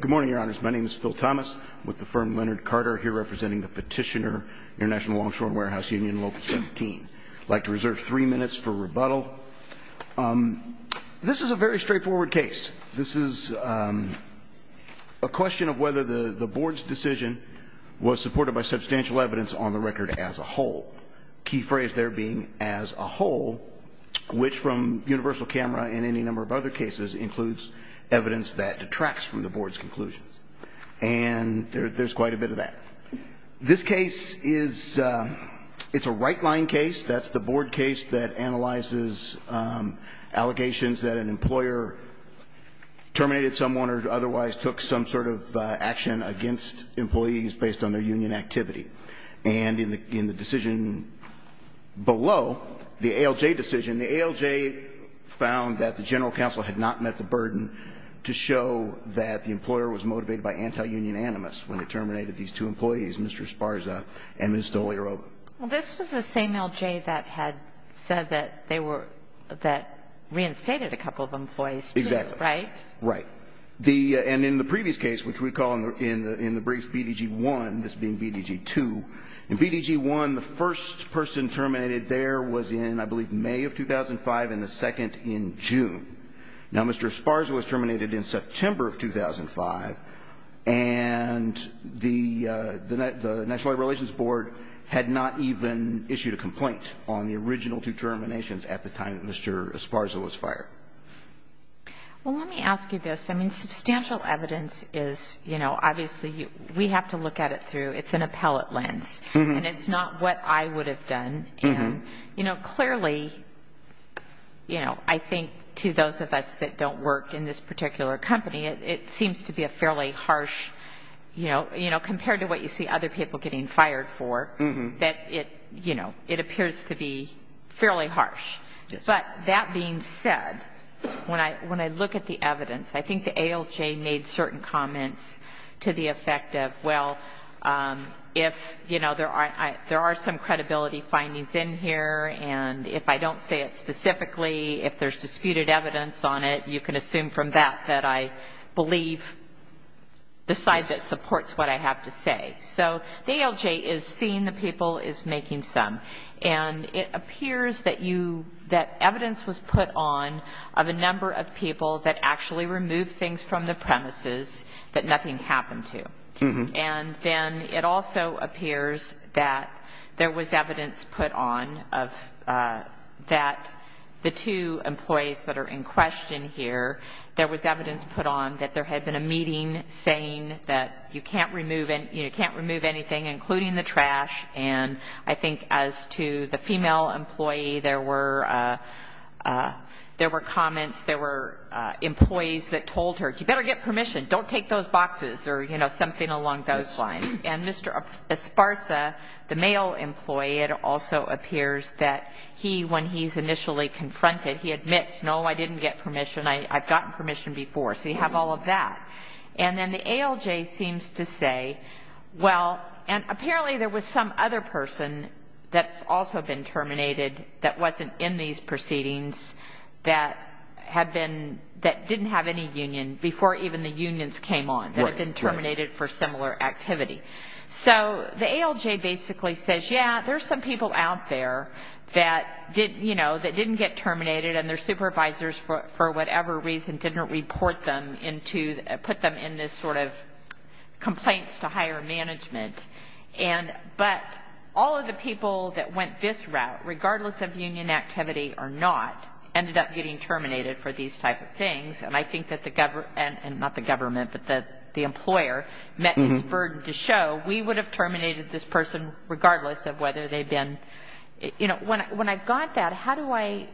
Good morning, your honors. My name is Phil Thomas, with the firm Leonard Carter, here representing the petitioner, International Longshore & Warehouse Union, Local 17. I'd like to reserve three minutes for rebuttal. This is a very straightforward case. This is a question of whether the board's decision was supported by substantial evidence on the record as a whole. Key phrase there being, as a whole, which from Universal Camera and any number of other cases includes evidence that detracts from the board's conclusions. And there's quite a bit of that. This case is a right-line case. That's the board case that analyzes allegations that an employer terminated someone or otherwise took some sort of action against employees based on their union activity. And in the decision below, the ALJ decision, the ALJ found that the general counsel had not met the burden to show that the employer was motivated by anti-union animus when it terminated these two employees, Mr. Esparza and Ms. Dolierova. Well, this was the same ALJ that had said that they were, that reinstated a couple of employees, too. Exactly. Right? Right. And in the previous case, which we call in the brief BDG 1, this being BDG 2, in BDG 1, the first person terminated there was in, I believe, May of 2005 and the second in June. Now, Mr. Esparza was terminated in September of 2005, and the National Labor Relations Board had not even issued a complaint on the original two terminations at the time that Mr. Esparza was fired. Well, let me ask you this. I mean, substantial evidence is, you know, obviously we have to look at it through, it's an appellate lens, and it's not what I would have done. And, you know, clearly, you know, I think to those of us that don't work in this particular company, it seems to be a fairly harsh, you know, you know, compared to what you see other people getting fired for, that it, you know, it appears to be fairly harsh. Yes. But that being said, when I look at the evidence, I think the ALJ made certain comments to the effect of, well, if, you know, there are some credibility findings in here, and if I don't say it specifically, if there's disputed evidence on it, you can assume from that that I believe the side that supports what I have to say. So the ALJ is seeing the people, is making some. And it appears that you, that evidence was put on of a number of people that actually removed things from the premises that nothing happened to. And then it also appears that there was evidence put on of that the two employees that are in question here, there was evidence put on that there had been a meeting saying that you can't remove anything, including the trash. And I think as to the female employee, there were comments, there were employees that told her, you better get permission. Don't take those boxes or, you know, something along those lines. And Mr. Esparza, the male employee, it also appears that he, when he's initially confronted, he admits, no, I didn't get permission, I've gotten permission before. So you have all of that. And then the ALJ seems to say, well, and apparently there was some other person that's also been terminated that wasn't in these proceedings that had been, that didn't have any union before even the unions came on, that had been terminated for similar activity. So the ALJ basically says, yeah, there's some people out there that, you know, that didn't get terminated and their supervisors for whatever reason didn't report them into, put them in this sort of complaints to higher management. But all of the people that went this route, regardless of union activity or not, ended up getting terminated for these type of things. And I think that the government, and not the government, but the employer met his burden to show, we would have terminated this person regardless of whether they'd been, you know. When I got that, how do I,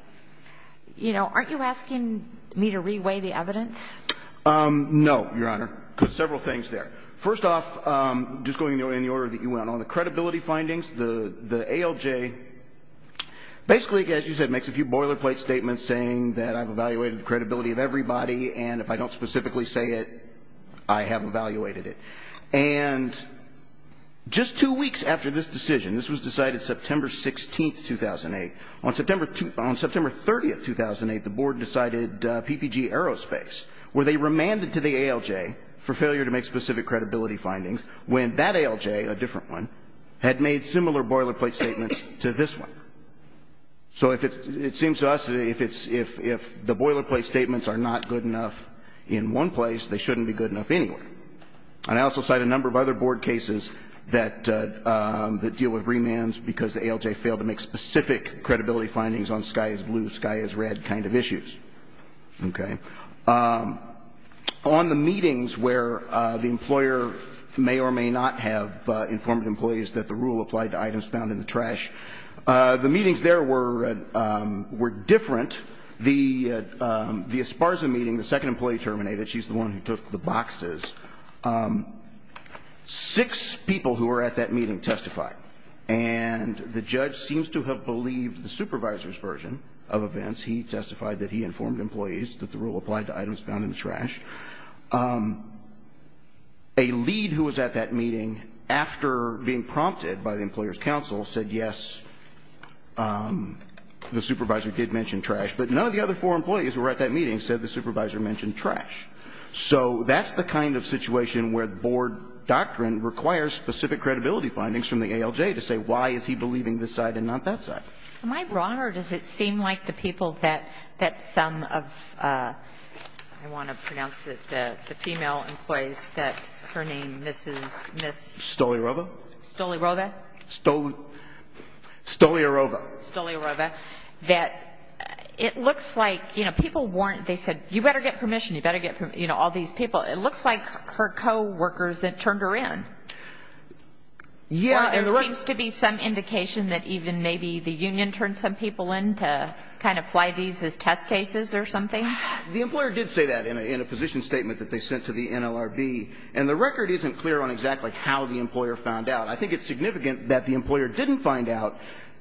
you know, aren't you asking me to reweigh the evidence? No, Your Honor, because several things there. First off, just going in the order that you went on, the credibility findings, the ALJ basically, as you said, makes a few boilerplate statements saying that I've evaluated the credibility of everybody and if I don't specifically say it, I have evaluated it. And just two weeks after this decision, this was decided September 16th, 2008, on September 30th, 2008, the board decided PPG Aerospace, where they remanded to the ALJ for failure to make specific credibility findings when that ALJ, a different one, had made similar boilerplate statements to this one. So if it seems to us that if it's, if the boilerplate statements are not good enough in one place, they shouldn't be good enough anywhere. And I also cite a number of other board cases that deal with remands because the ALJ failed to make specific credibility findings on sky is blue, sky is red kind of issues. Okay. On the meetings where the employer may or may not have informed employees that the rule applied to items found in the trash, the meetings there were different. The Esparza meeting, the second employee terminated. She's the one who took the boxes. Six people who were at that meeting testified. And the judge seems to have believed the supervisor's version of events. He testified that he informed employees that the rule applied to items found in the trash. A lead who was at that meeting after being prompted by the employer's counsel said, yes, the supervisor did mention trash. But none of the other four employees who were at that meeting said the supervisor mentioned trash. So that's the kind of situation where the board doctrine requires specific credibility findings from the ALJ to say why is he believing this side and not that side. Am I wrong or does it seem like the people that some of, I want to pronounce it, the female employees, that her name, Mrs. Stoliarova. Stoliarova. Stoliarova. Stoliarova. That it looks like, you know, people weren't, they said, you better get permission, you better get, you know, all these people. It looks like her coworkers turned her in. Yeah. There seems to be some indication that even maybe the union turned some people in to kind of fly these as test cases or something. The employer did say that in a position statement that they sent to the NLRB. And the record isn't clear on exactly how the employer found out. I think it's significant that the employer didn't find out,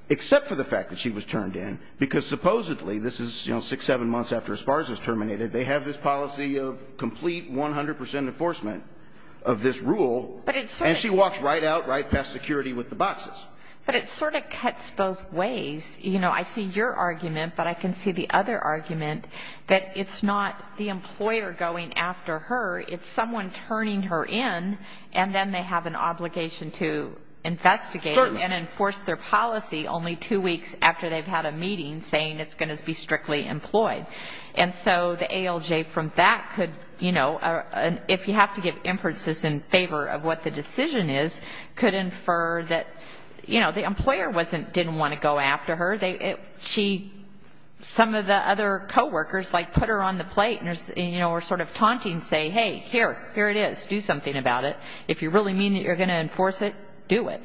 except for the fact that she was turned in, because supposedly this is, you know, six, seven months after Esparza's terminated, they have this policy of complete 100 percent enforcement of this rule. And she walks right out, right past security with the boxes. But it sort of cuts both ways. You know, I see your argument, but I can see the other argument, that it's not the employer going after her, it's someone turning her in, and then they have an obligation to investigate and enforce their policy only two weeks after they've had a meeting saying it's going to be strictly employed. And so the ALJ from that could, you know, if you have to give inferences in favor of what the decision is, could infer that, you know, the employer wasn't, didn't want to go after her. She, some of the other coworkers, like, put her on the plate and, you know, were sort of taunting, saying, hey, here, here it is, do something about it. If you really mean that you're going to enforce it, do it.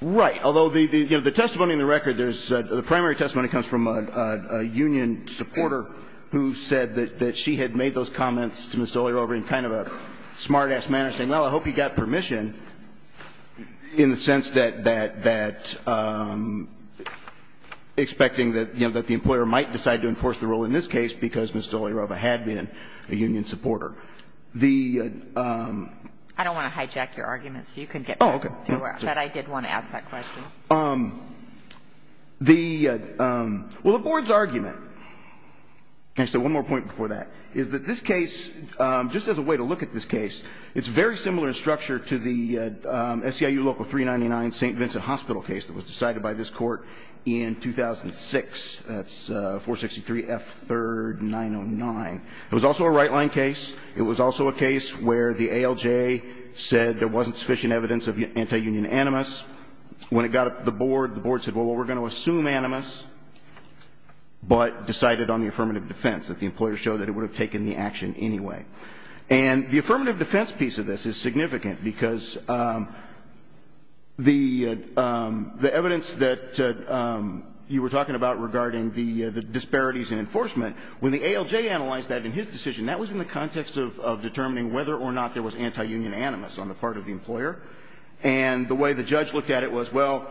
Right. Although the testimony in the record, the primary testimony comes from a union supporter who said that she had made those comments to Ms. Dolirova in kind of a smart-ass manner, saying, well, I hope you got permission, in the sense that expecting that the employer might decide to enforce the rule in this case because Ms. Dolirova had been a union supporter. The ---- I don't want to hijack your argument, so you can get back to work. Oh, okay. But I did want to ask that question. The ---- well, the Board's argument, and so one more point before that, is that this case, just as a way to look at this case, it's very similar in structure to the SEIU Local 399 St. Vincent Hospital case that was decided by this Court in 2006. That's 463 F. 3rd, 909. It was also a right-line case. It was also a case where the ALJ said there wasn't sufficient evidence of anti-union animus. When it got up to the Board, the Board said, well, we're going to assume animus, but decided on the affirmative defense, that the employer showed that it would have taken the action anyway. And the affirmative defense piece of this is significant because the evidence that you were talking about regarding the disparities in enforcement, when the ALJ analyzed that in his decision, that was in the context of determining whether or not there was anti-union animus on the part of the employer. And the way the judge looked at it was, well,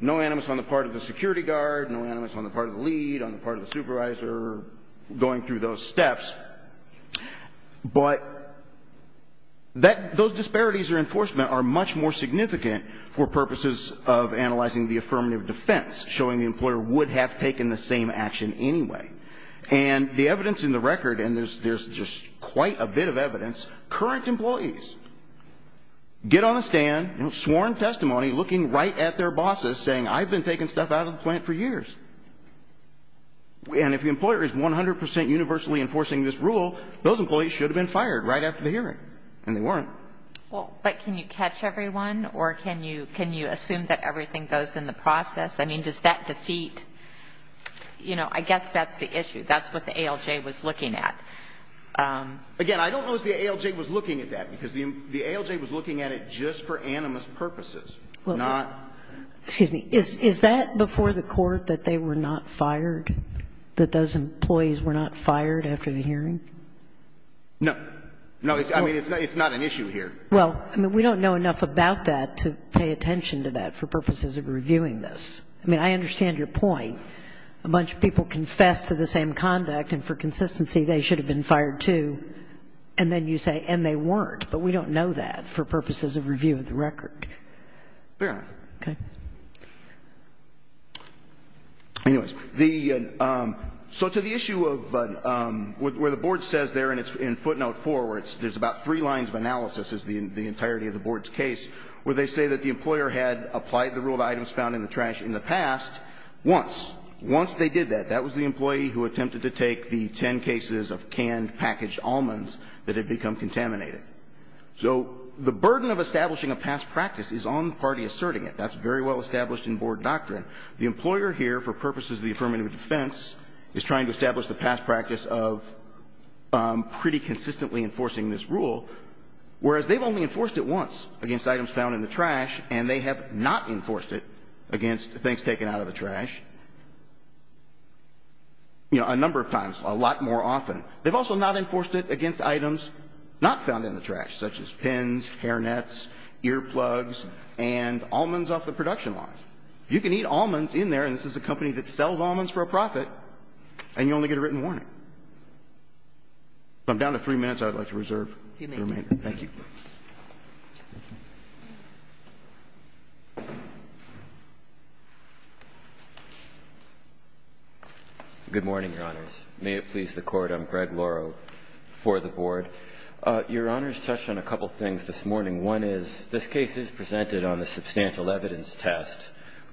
no animus on the part of the security guard, no animus on the part of the lead, on the part of the supervisor, going through those steps. But that ---- those disparities in enforcement are much more significant for purposes of analyzing the affirmative defense, showing the employer would have taken the same action anyway. And the evidence in the record, and there's just quite a bit of evidence, current employees get on the stand, sworn testimony, looking right at their bosses, saying I've been taking stuff out of the plant for years. And if the employer is 100 percent universally enforcing this rule, those employees should have been fired right after the hearing. And they weren't. Well, but can you catch everyone? Or can you assume that everything goes in the process? That's the issue. That's what the ALJ was looking at. Again, I don't know if the ALJ was looking at that, because the ALJ was looking at it just for animus purposes, not ---- Excuse me. Is that before the Court, that they were not fired, that those employees were not fired after the hearing? No. No. I mean, it's not an issue here. Well, I mean, we don't know enough about that to pay attention to that for purposes of reviewing this. I mean, I understand your point. A bunch of people confess to the same conduct, and for consistency, they should have been fired, too. And then you say, and they weren't. But we don't know that for purposes of review of the record. Fair enough. Okay. Anyways. The ---- So to the issue of where the Board says there in footnote 4, where there's about three lines of analysis is the entirety of the Board's case, where they say that the employer had applied the rule to items found in the trash in the past once. Once they did that, that was the employee who attempted to take the ten cases of canned, packaged almonds that had become contaminated. So the burden of establishing a past practice is on the party asserting it. That's very well established in Board doctrine. The employer here, for purposes of the affirmative defense, is trying to establish the past practice of pretty consistently enforcing this rule, whereas they've only found it in the trash, and they have not enforced it against things taken out of the trash, you know, a number of times, a lot more often. They've also not enforced it against items not found in the trash, such as pins, hairnets, earplugs, and almonds off the production lines. You can eat almonds in there, and this is a company that sells almonds for a profit, and you only get a written warning. I'm down to three minutes. I would like to reserve the remaining. Thank you. Good morning, Your Honors. May it please the Court. I'm Greg Lauro for the Board. Your Honors touched on a couple things this morning. One is, this case is presented on the substantial evidence test,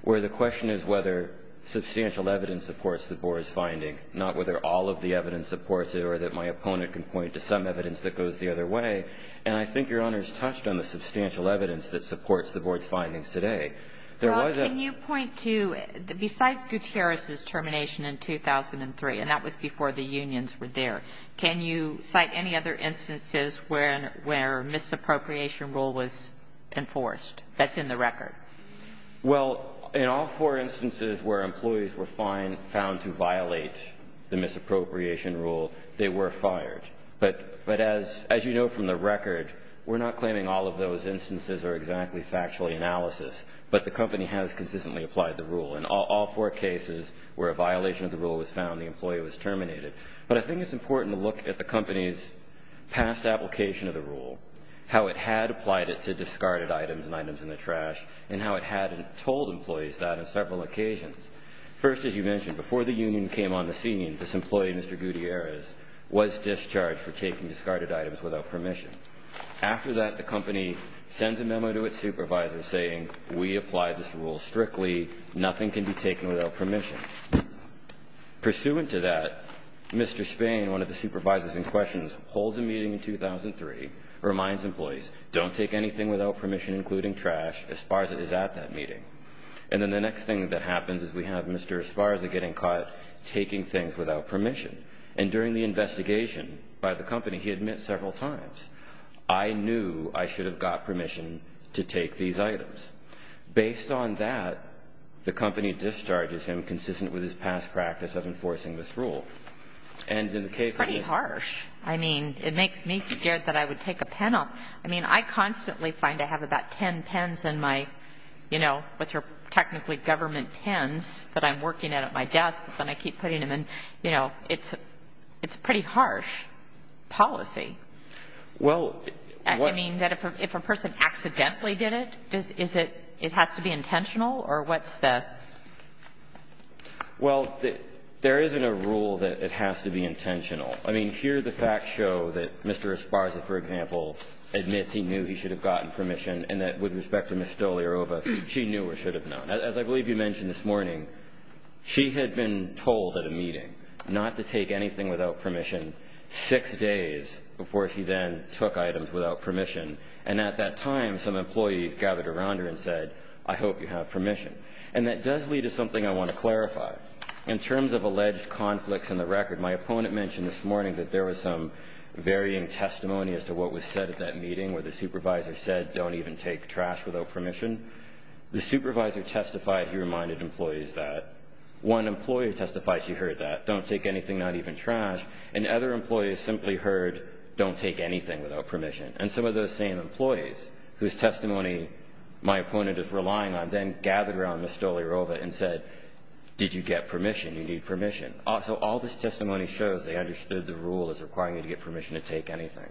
where the question is whether substantial evidence supports the Board's finding, not whether all of the evidence supports it or that my opponent can point to some evidence that goes the other way. And I think Your Honors touched on the substantial evidence that supports the Board's findings today. There was a... Well, can you point to, besides Gutierrez's termination in 2003, and that was before the unions were there, can you cite any other instances where misappropriation rule was enforced that's in the record? Well, in all four instances where employees were found to violate the misappropriation rule, they were fired. But as you know from the record, we're not claiming all of those instances are exactly factual analysis, but the company has consistently applied the rule. In all four cases where a violation of the rule was found, the employee was terminated. But I think it's important to look at the company's past application of the rule, how it had applied it to discarded items and items in the trash, and how it had told employees that on several occasions. First, as you mentioned, before the union came on the scene, this employee, Mr. Esparza, was charged for taking discarded items without permission. After that, the company sends a memo to its supervisor saying, we applied this rule strictly. Nothing can be taken without permission. Pursuant to that, Mr. Spain, one of the supervisors in question, holds a meeting in 2003, reminds employees, don't take anything without permission, including trash. Esparza is at that meeting. And then the next thing that happens is we have Mr. Esparza getting caught taking things without permission. And during the investigation by the company, he admits several times, I knew I should have got permission to take these items. Based on that, the company discharges him consistent with his past practice of enforcing this rule. And in the case of the union. It's pretty harsh. I mean, it makes me scared that I would take a pen off. I mean, I constantly find I have about ten pens in my, you know, which are technically government pens that I'm working at at my desk and I keep putting them in. But, you know, it's pretty harsh policy. Well. I mean, if a person accidentally did it, is it, it has to be intentional or what's the? Well, there isn't a rule that it has to be intentional. I mean, here the facts show that Mr. Esparza, for example, admits he knew he should have gotten permission and that with respect to Ms. Stoliarova, she knew or should have known. As I believe you mentioned this morning, she had been told at a meeting not to take anything without permission six days before she then took items without permission. And at that time, some employees gathered around her and said, I hope you have permission. And that does lead to something I want to clarify. In terms of alleged conflicts in the record, my opponent mentioned this morning that there was some varying testimony as to what was said at that meeting where the supervisor said, don't even take trash without permission. The supervisor testified he reminded employees that. One employee testified she heard that, don't take anything, not even trash. And other employees simply heard, don't take anything without permission. And some of those same employees whose testimony my opponent is relying on then gathered around Ms. Stoliarova and said, did you get permission? You need permission. So all this testimony shows they understood the rule as requiring you to get permission to take anything.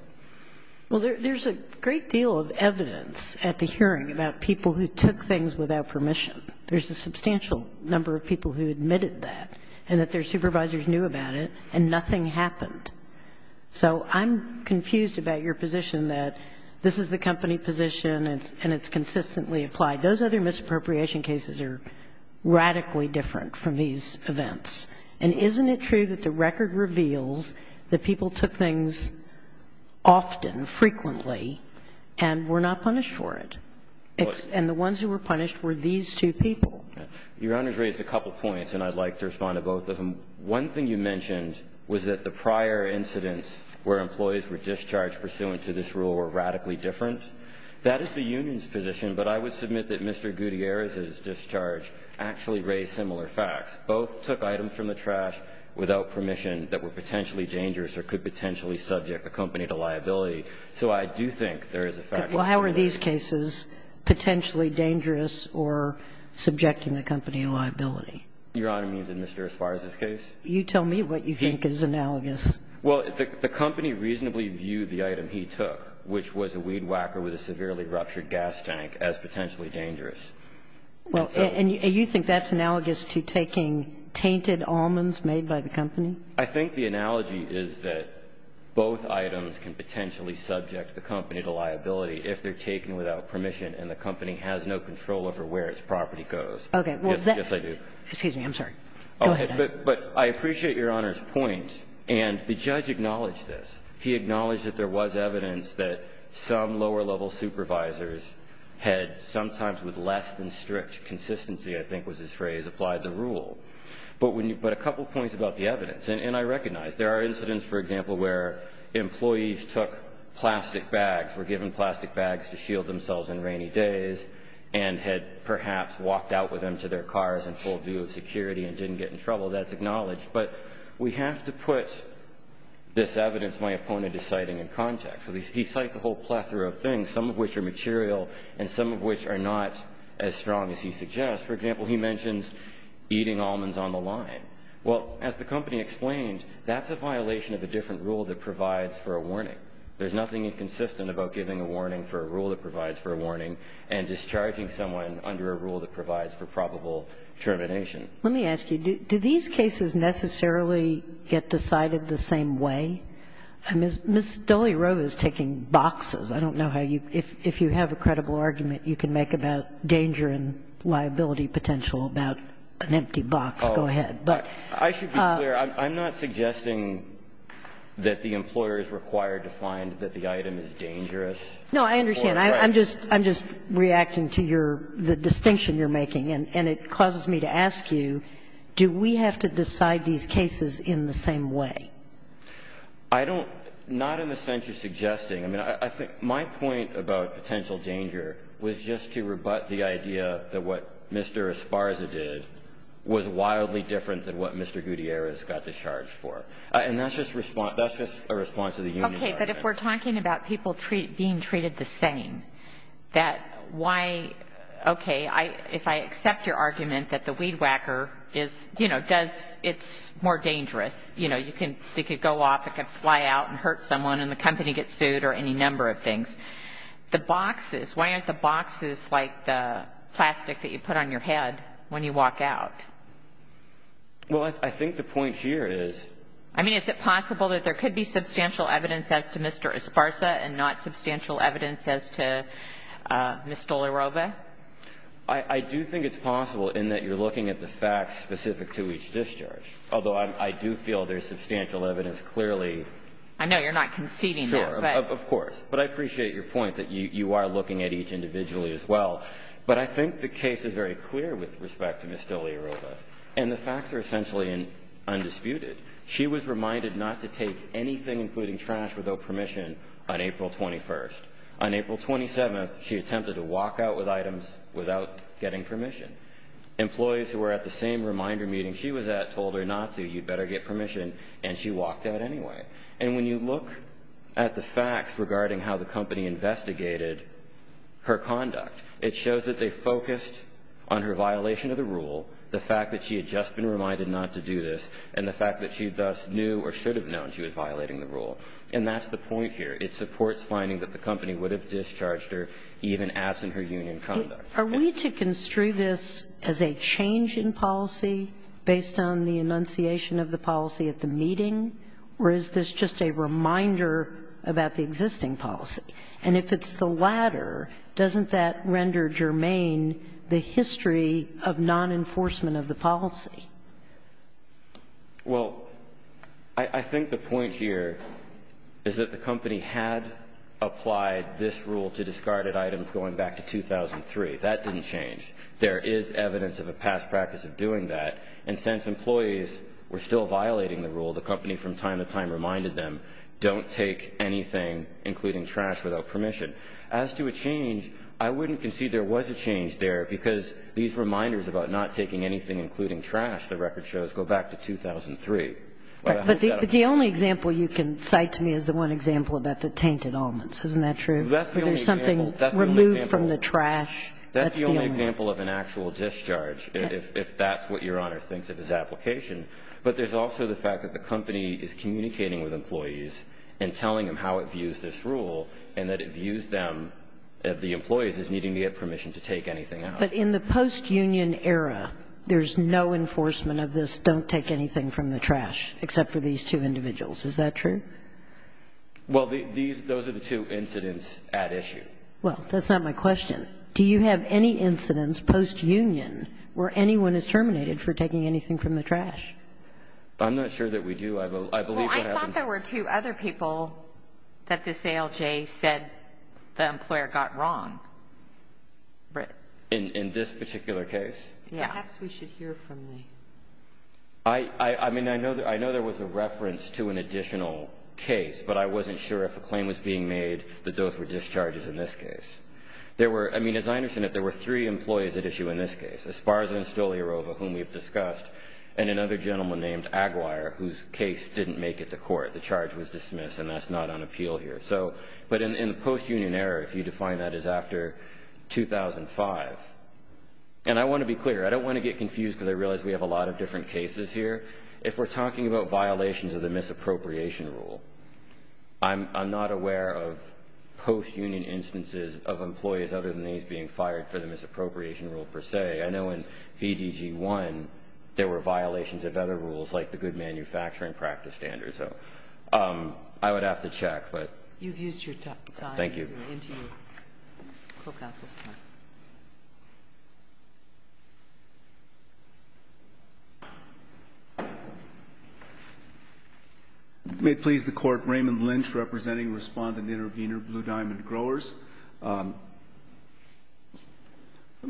Well, there's a great deal of evidence at the hearing about people who took things without permission. There's a substantial number of people who admitted that and that their supervisors knew about it, and nothing happened. So I'm confused about your position that this is the company position and it's consistently applied. Those other misappropriation cases are radically different from these events. And isn't it true that the record reveals that people took things often, frequently, and were not punished for it, and the ones who were punished were these two people? Your Honor's raised a couple points, and I'd like to respond to both of them. One thing you mentioned was that the prior incidents where employees were discharged pursuant to this rule were radically different. That is the union's position. But I would submit that Mr. Gutierrez's discharge actually raised similar facts. Both took items from the trash without permission that were potentially dangerous or could potentially subject the company to liability. So I do think there is a factual difference. Well, how are these cases potentially dangerous or subjecting the company to liability? Your Honor means in Mr. Esparza's case? You tell me what you think is analogous. Well, the company reasonably viewed the item he took, which was a weed whacker with a severely ruptured gas tank, as potentially dangerous. Well, and you think that's analogous to taking tainted almonds made by the company? I think the analogy is that both items can potentially subject the company to liability if they're taken without permission and the company has no control over where its property goes. Okay. Yes, I do. Excuse me, I'm sorry. Go ahead. But I appreciate Your Honor's point, and the judge acknowledged this. He acknowledged that there was evidence that some lower-level supervisors had sometimes with less than strict consistency, I think was his phrase, applied the rule. But a couple points about the evidence. And I recognize there are incidents, for example, where employees took plastic bags, were given plastic bags to shield themselves in rainy days, and had perhaps walked out with them to their cars in full view of security and didn't get in trouble. That's acknowledged. But we have to put this evidence my opponent is citing in context. He cites a whole plethora of things, some of which are material and some of which are not as strong as he suggests. For example, he mentions eating almonds on the line. Well, as the company explained, that's a violation of a different rule that provides for a warning. There's nothing inconsistent about giving a warning for a rule that provides for a warning and discharging someone under a rule that provides for probable termination. Let me ask you, do these cases necessarily get decided the same way? Ms. Dolly Roe is taking boxes. I don't know how you – if you have a credible argument you can make about danger and liability potential about an empty box, go ahead. But – I should be clear. I'm not suggesting that the employer is required to find that the item is dangerous. No, I understand. I'm just reacting to your – the distinction you're making. And it causes me to ask you, do we have to decide these cases in the same way? I don't – not in the sense you're suggesting. I mean, I think my point about potential danger was just to rebut the idea that what Mr. Esparza did was wildly different than what Mr. Gutierrez got to charge for. And that's just a response to the union argument. Okay. But if we're talking about people being treated the same, that why – okay. If I accept your argument that the weed whacker is – you know, does – it's more dangerous. You know, you can – it could go off. It could fly out and hurt someone and the company gets sued or any number of things. The boxes. Why aren't the boxes like the plastic that you put on your head when you walk out? Well, I think the point here is – I mean, is it possible that there could be substantial evidence as to Mr. Esparza and not substantial evidence as to Ms. Stolaroba? I do think it's possible in that you're looking at the facts specific to each discharge. Although I do feel there's substantial evidence clearly. I know you're not conceding there. Sure. Of course. But I appreciate your point that you are looking at each individually as well. But I think the case is very clear with respect to Ms. Stolaroba. And the facts are essentially undisputed. She was reminded not to take anything, including trash, without permission on April 21st. On April 27th, she attempted to walk out with items without getting permission. Employees who were at the same reminder meeting she was at told her not to. You'd better get permission. And she walked out anyway. And when you look at the facts regarding how the company investigated her conduct, it shows that they focused on her violation of the rule, the fact that she had just been reminded not to do this, and the fact that she thus knew or should have known she was violating the rule. And that's the point here. It supports finding that the company would have discharged her even absent her union conduct. Are we to construe this as a change in policy based on the enunciation of the policy at the meeting? Or is this just a reminder about the existing policy? And if it's the latter, doesn't that render germane the history of non-enforcement of the policy? Well, I think the point here is that the company had applied this rule to discarded items going back to 2003. That didn't change. There is evidence of a past practice of doing that. And since employees were still violating the rule, the company from time to time reminded them, don't take anything, including trash, without permission. As to a change, I wouldn't concede there was a change there because these reminders about not taking anything, including trash, the record shows, go back to 2003. But the only example you can cite to me is the one example about the tainted almonds. Isn't that true? That's the only example. Remove from the trash. That's the only example. That's the only example of an actual discharge, if that's what Your Honor thinks of his application. But there's also the fact that the company is communicating with employees and telling them how it views this rule and that it views them, the employees, as needing to get permission to take anything out. But in the post-union era, there's no enforcement of this, don't take anything from the trash, except for these two individuals. Is that true? Well, those are the two incidents at issue. Well, that's not my question. Do you have any incidents post-union where anyone is terminated for taking anything from the trash? I'm not sure that we do. I believe what happened. Well, I thought there were two other people that this ALJ said the employer got wrong. In this particular case? Yes. Perhaps we should hear from the ALJ. I mean, I know there was a reference to an additional case, but I wasn't sure if a claim was being made that those were discharges in this case. I mean, as I understand it, there were three employees at issue in this case, Esparza and Stoliarova, whom we've discussed, and another gentleman named Aguirre, whose case didn't make it to court. The charge was dismissed, and that's not on appeal here. But in the post-union era, if you define that as after 2005, and I want to be clear, I don't want to get confused because I realize we have a lot of different cases here, but if we're talking about violations of the misappropriation rule, I'm not aware of post-union instances of employees other than these being fired for the misappropriation rule per se. I know in PDG 1 there were violations of other rules like the good manufacturing practice standards. So I would have to check. You've used your time. Thank you. Thank you. And to you. The Court has this time. May it please the Court, Raymond Lynch representing Respondent Intervenor Blue Diamond Growers. Let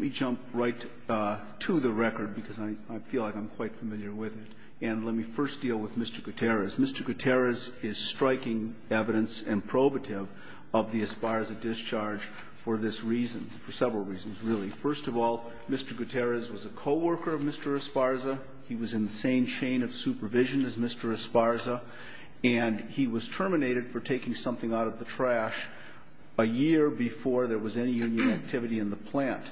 me jump right to the record because I feel like I'm quite familiar with it. And let me first deal with Mr. Gutierrez. Mr. Gutierrez is striking evidence and probative of the Esparza discharge for this reason, for several reasons, really. First of all, Mr. Gutierrez was a co-worker of Mr. Esparza. He was in the same chain of supervision as Mr. Esparza. And he was terminated for taking something out of the trash a year before there was any union activity in the plant.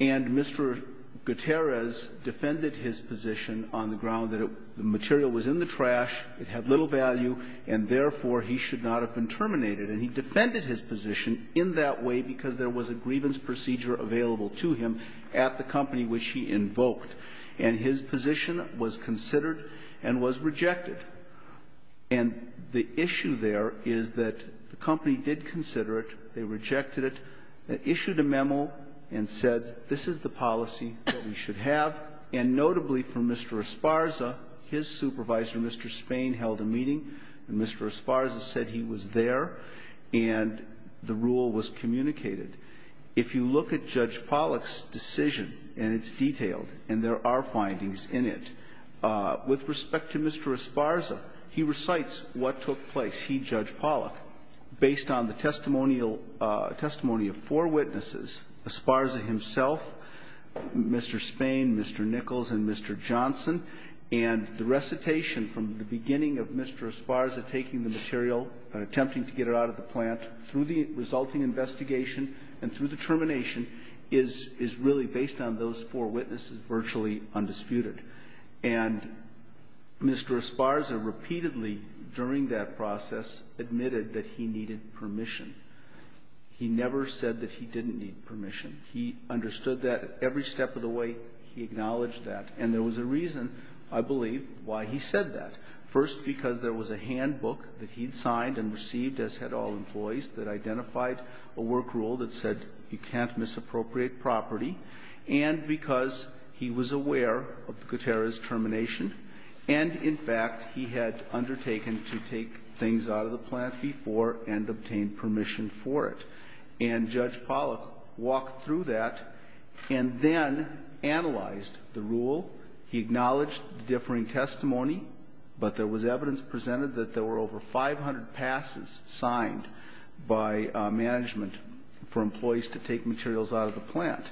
And Mr. Gutierrez defended his position on the ground that the material was in the plant, had little value, and therefore he should not have been terminated. And he defended his position in that way because there was a grievance procedure available to him at the company which he invoked. And his position was considered and was rejected. And the issue there is that the company did consider it. They rejected it. They issued a memo and said this is the policy that we should have. And notably for Mr. Esparza, his supervisor, Mr. Spain, held a meeting. And Mr. Esparza said he was there and the rule was communicated. If you look at Judge Pollack's decision, and it's detailed, and there are findings in it, with respect to Mr. Esparza, he recites what took place. He, Judge Pollack, based on the testimony of four witnesses, Esparza himself, Mr. Spain, Mr. Nichols, and Mr. Johnson, and the recitation from the beginning of Mr. Esparza taking the material and attempting to get it out of the plant through the resulting investigation and through the termination is really based on those four witnesses virtually undisputed. And Mr. Esparza repeatedly during that process admitted that he needed permission. He never said that he didn't need permission. He understood that every step of the way, he acknowledged that. And there was a reason, I believe, why he said that. First, because there was a handbook that he'd signed and received as had all employees that identified a work rule that said you can't misappropriate property. And because he was aware of the Gutierrez termination and, in fact, he had undertaken to take things out of the plant before and obtain permission for it. And Judge Pollack walked through that and then analyzed the rule. He acknowledged differing testimony, but there was evidence presented that there were over 500 passes signed by management for employees to take materials out of the plant.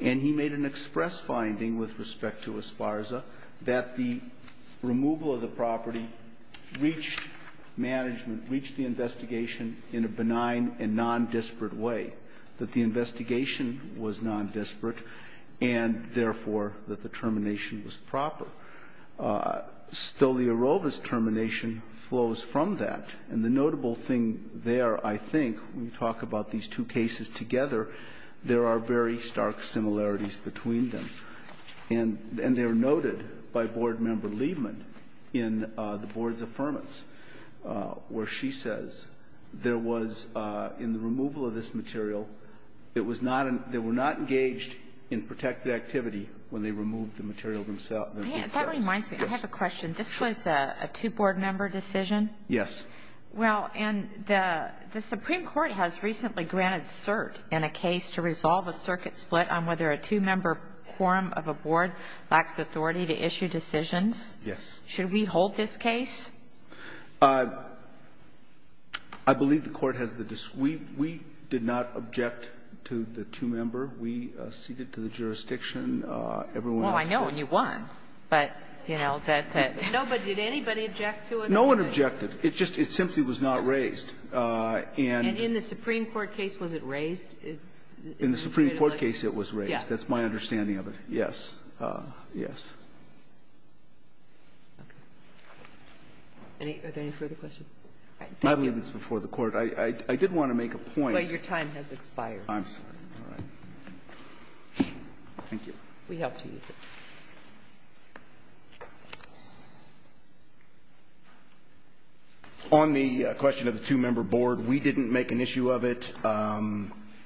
And he made an express finding with respect to Esparza that the removal of the property reached management, reached the investigation in a benign and nondesperate way, that the investigation was nondesperate and, therefore, that the termination was proper. Stoliarova's termination flows from that. And the notable thing there, I think, when you talk about these two cases together, there are very stark similarities between them. And they are noted by Board Member Liebman in the Board's affirmance where she says there was, in the removal of this material, it was not an – they were not engaged in protected activity when they removed the material themselves. That reminds me. I have a question. This was a two-Board member decision? Yes. Well, and the Supreme Court has recently granted cert in a case to resolve a circuit split on whether a two-member quorum of a Board lacks authority to issue decisions. Yes. Should we hold this case? I believe the Court has the – we did not object to the two-member. We ceded to the jurisdiction. Everyone else did. Well, I know, and you won. But, you know, that the – No, but did anybody object to it? No one objected. It just – it simply was not raised. And – And in the Supreme Court case, was it raised? In the Supreme Court case, it was raised. Yes. That's my understanding of it. Yes. Yes. Okay. Are there any further questions? I believe it's before the Court. I did want to make a point. Well, your time has expired. I'm sorry. All right. Thank you. We hope to use it. On the question of the two-member Board, we didn't make an issue of it.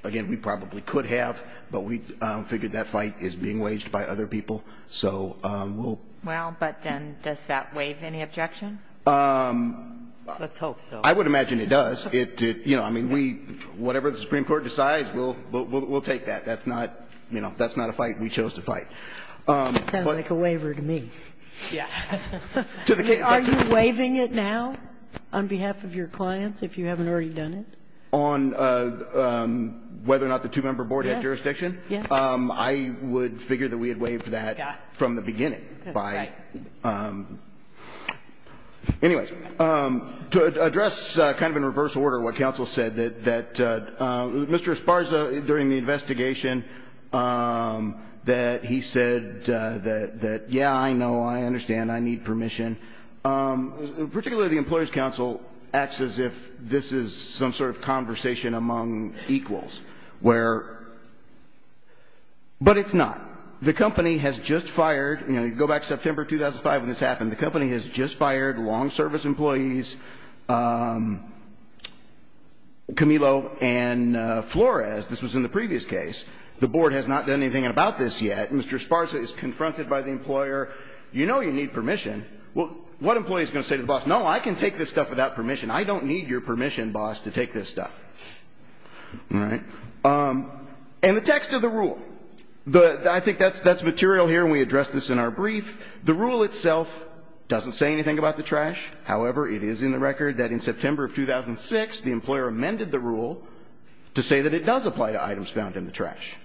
Again, we probably could have, but we figured that fight is being waged by other people. So we'll – Well, but then does that waive any objection? Let's hope so. I would imagine it does. It – you know, I mean, we – whatever the Supreme Court decides, we'll take that. That's not – you know, if that's not a fight, we chose to fight. Sounds like a waiver to me. Yes. Are you waiving it now on behalf of your clients if you haven't already done it? On whether or not the two-member Board has jurisdiction? Yes. I would figure that we had waived that from the beginning by – Right. Anyways, to address kind of in reverse order what counsel said, that Mr. Esparza, during the investigation, that he said that, yeah, I know, I understand, I need a conversation among equals where – but it's not. The company has just fired – you know, you go back to September 2005 when this happened. The company has just fired long-service employees, Camilo and Flores. This was in the previous case. The Board has not done anything about this yet. Mr. Esparza is confronted by the employer. You know you need permission. What employee is going to say to the boss, no, I can take this stuff without permission. I don't need your permission, boss, to take this stuff. All right. And the text of the rule. I think that's material here and we addressed this in our brief. The rule itself doesn't say anything about the trash. However, it is in the record that in September of 2006 the employer amended the rule to say that it does apply to items found in the trash.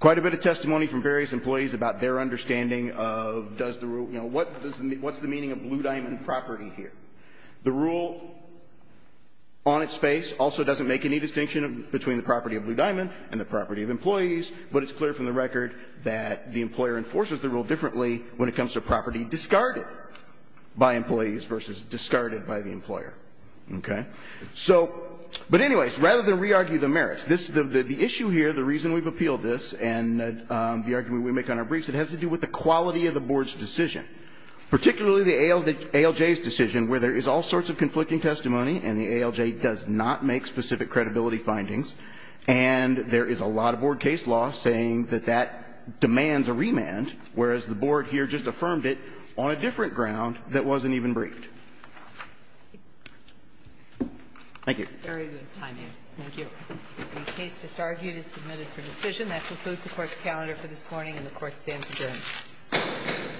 Quite a bit of testimony from various employees about their understanding of does the rule – you know, what's the meaning of blue diamond property here? The rule on its face also doesn't make any distinction between the property of blue diamond and the property of employees. But it's clear from the record that the employer enforces the rule differently when it comes to property discarded by employees versus discarded by the employer. Okay. So, but anyways, rather than re-argue the merits, the issue here, the reason we've appealed this and the argument we make on our briefs, it has to do with the quality of the Board's decision, particularly the ALJ's decision where there is all sorts of conflicting testimony and the ALJ does not make specific credibility findings. And there is a lot of Board case law saying that that demands a remand, whereas the Board here just affirmed it on a different ground that wasn't even briefed. Thank you. Very good timing. Thank you. The case disargued is submitted for decision. That concludes the Court's calendar for this morning, and the Court stands adjourned.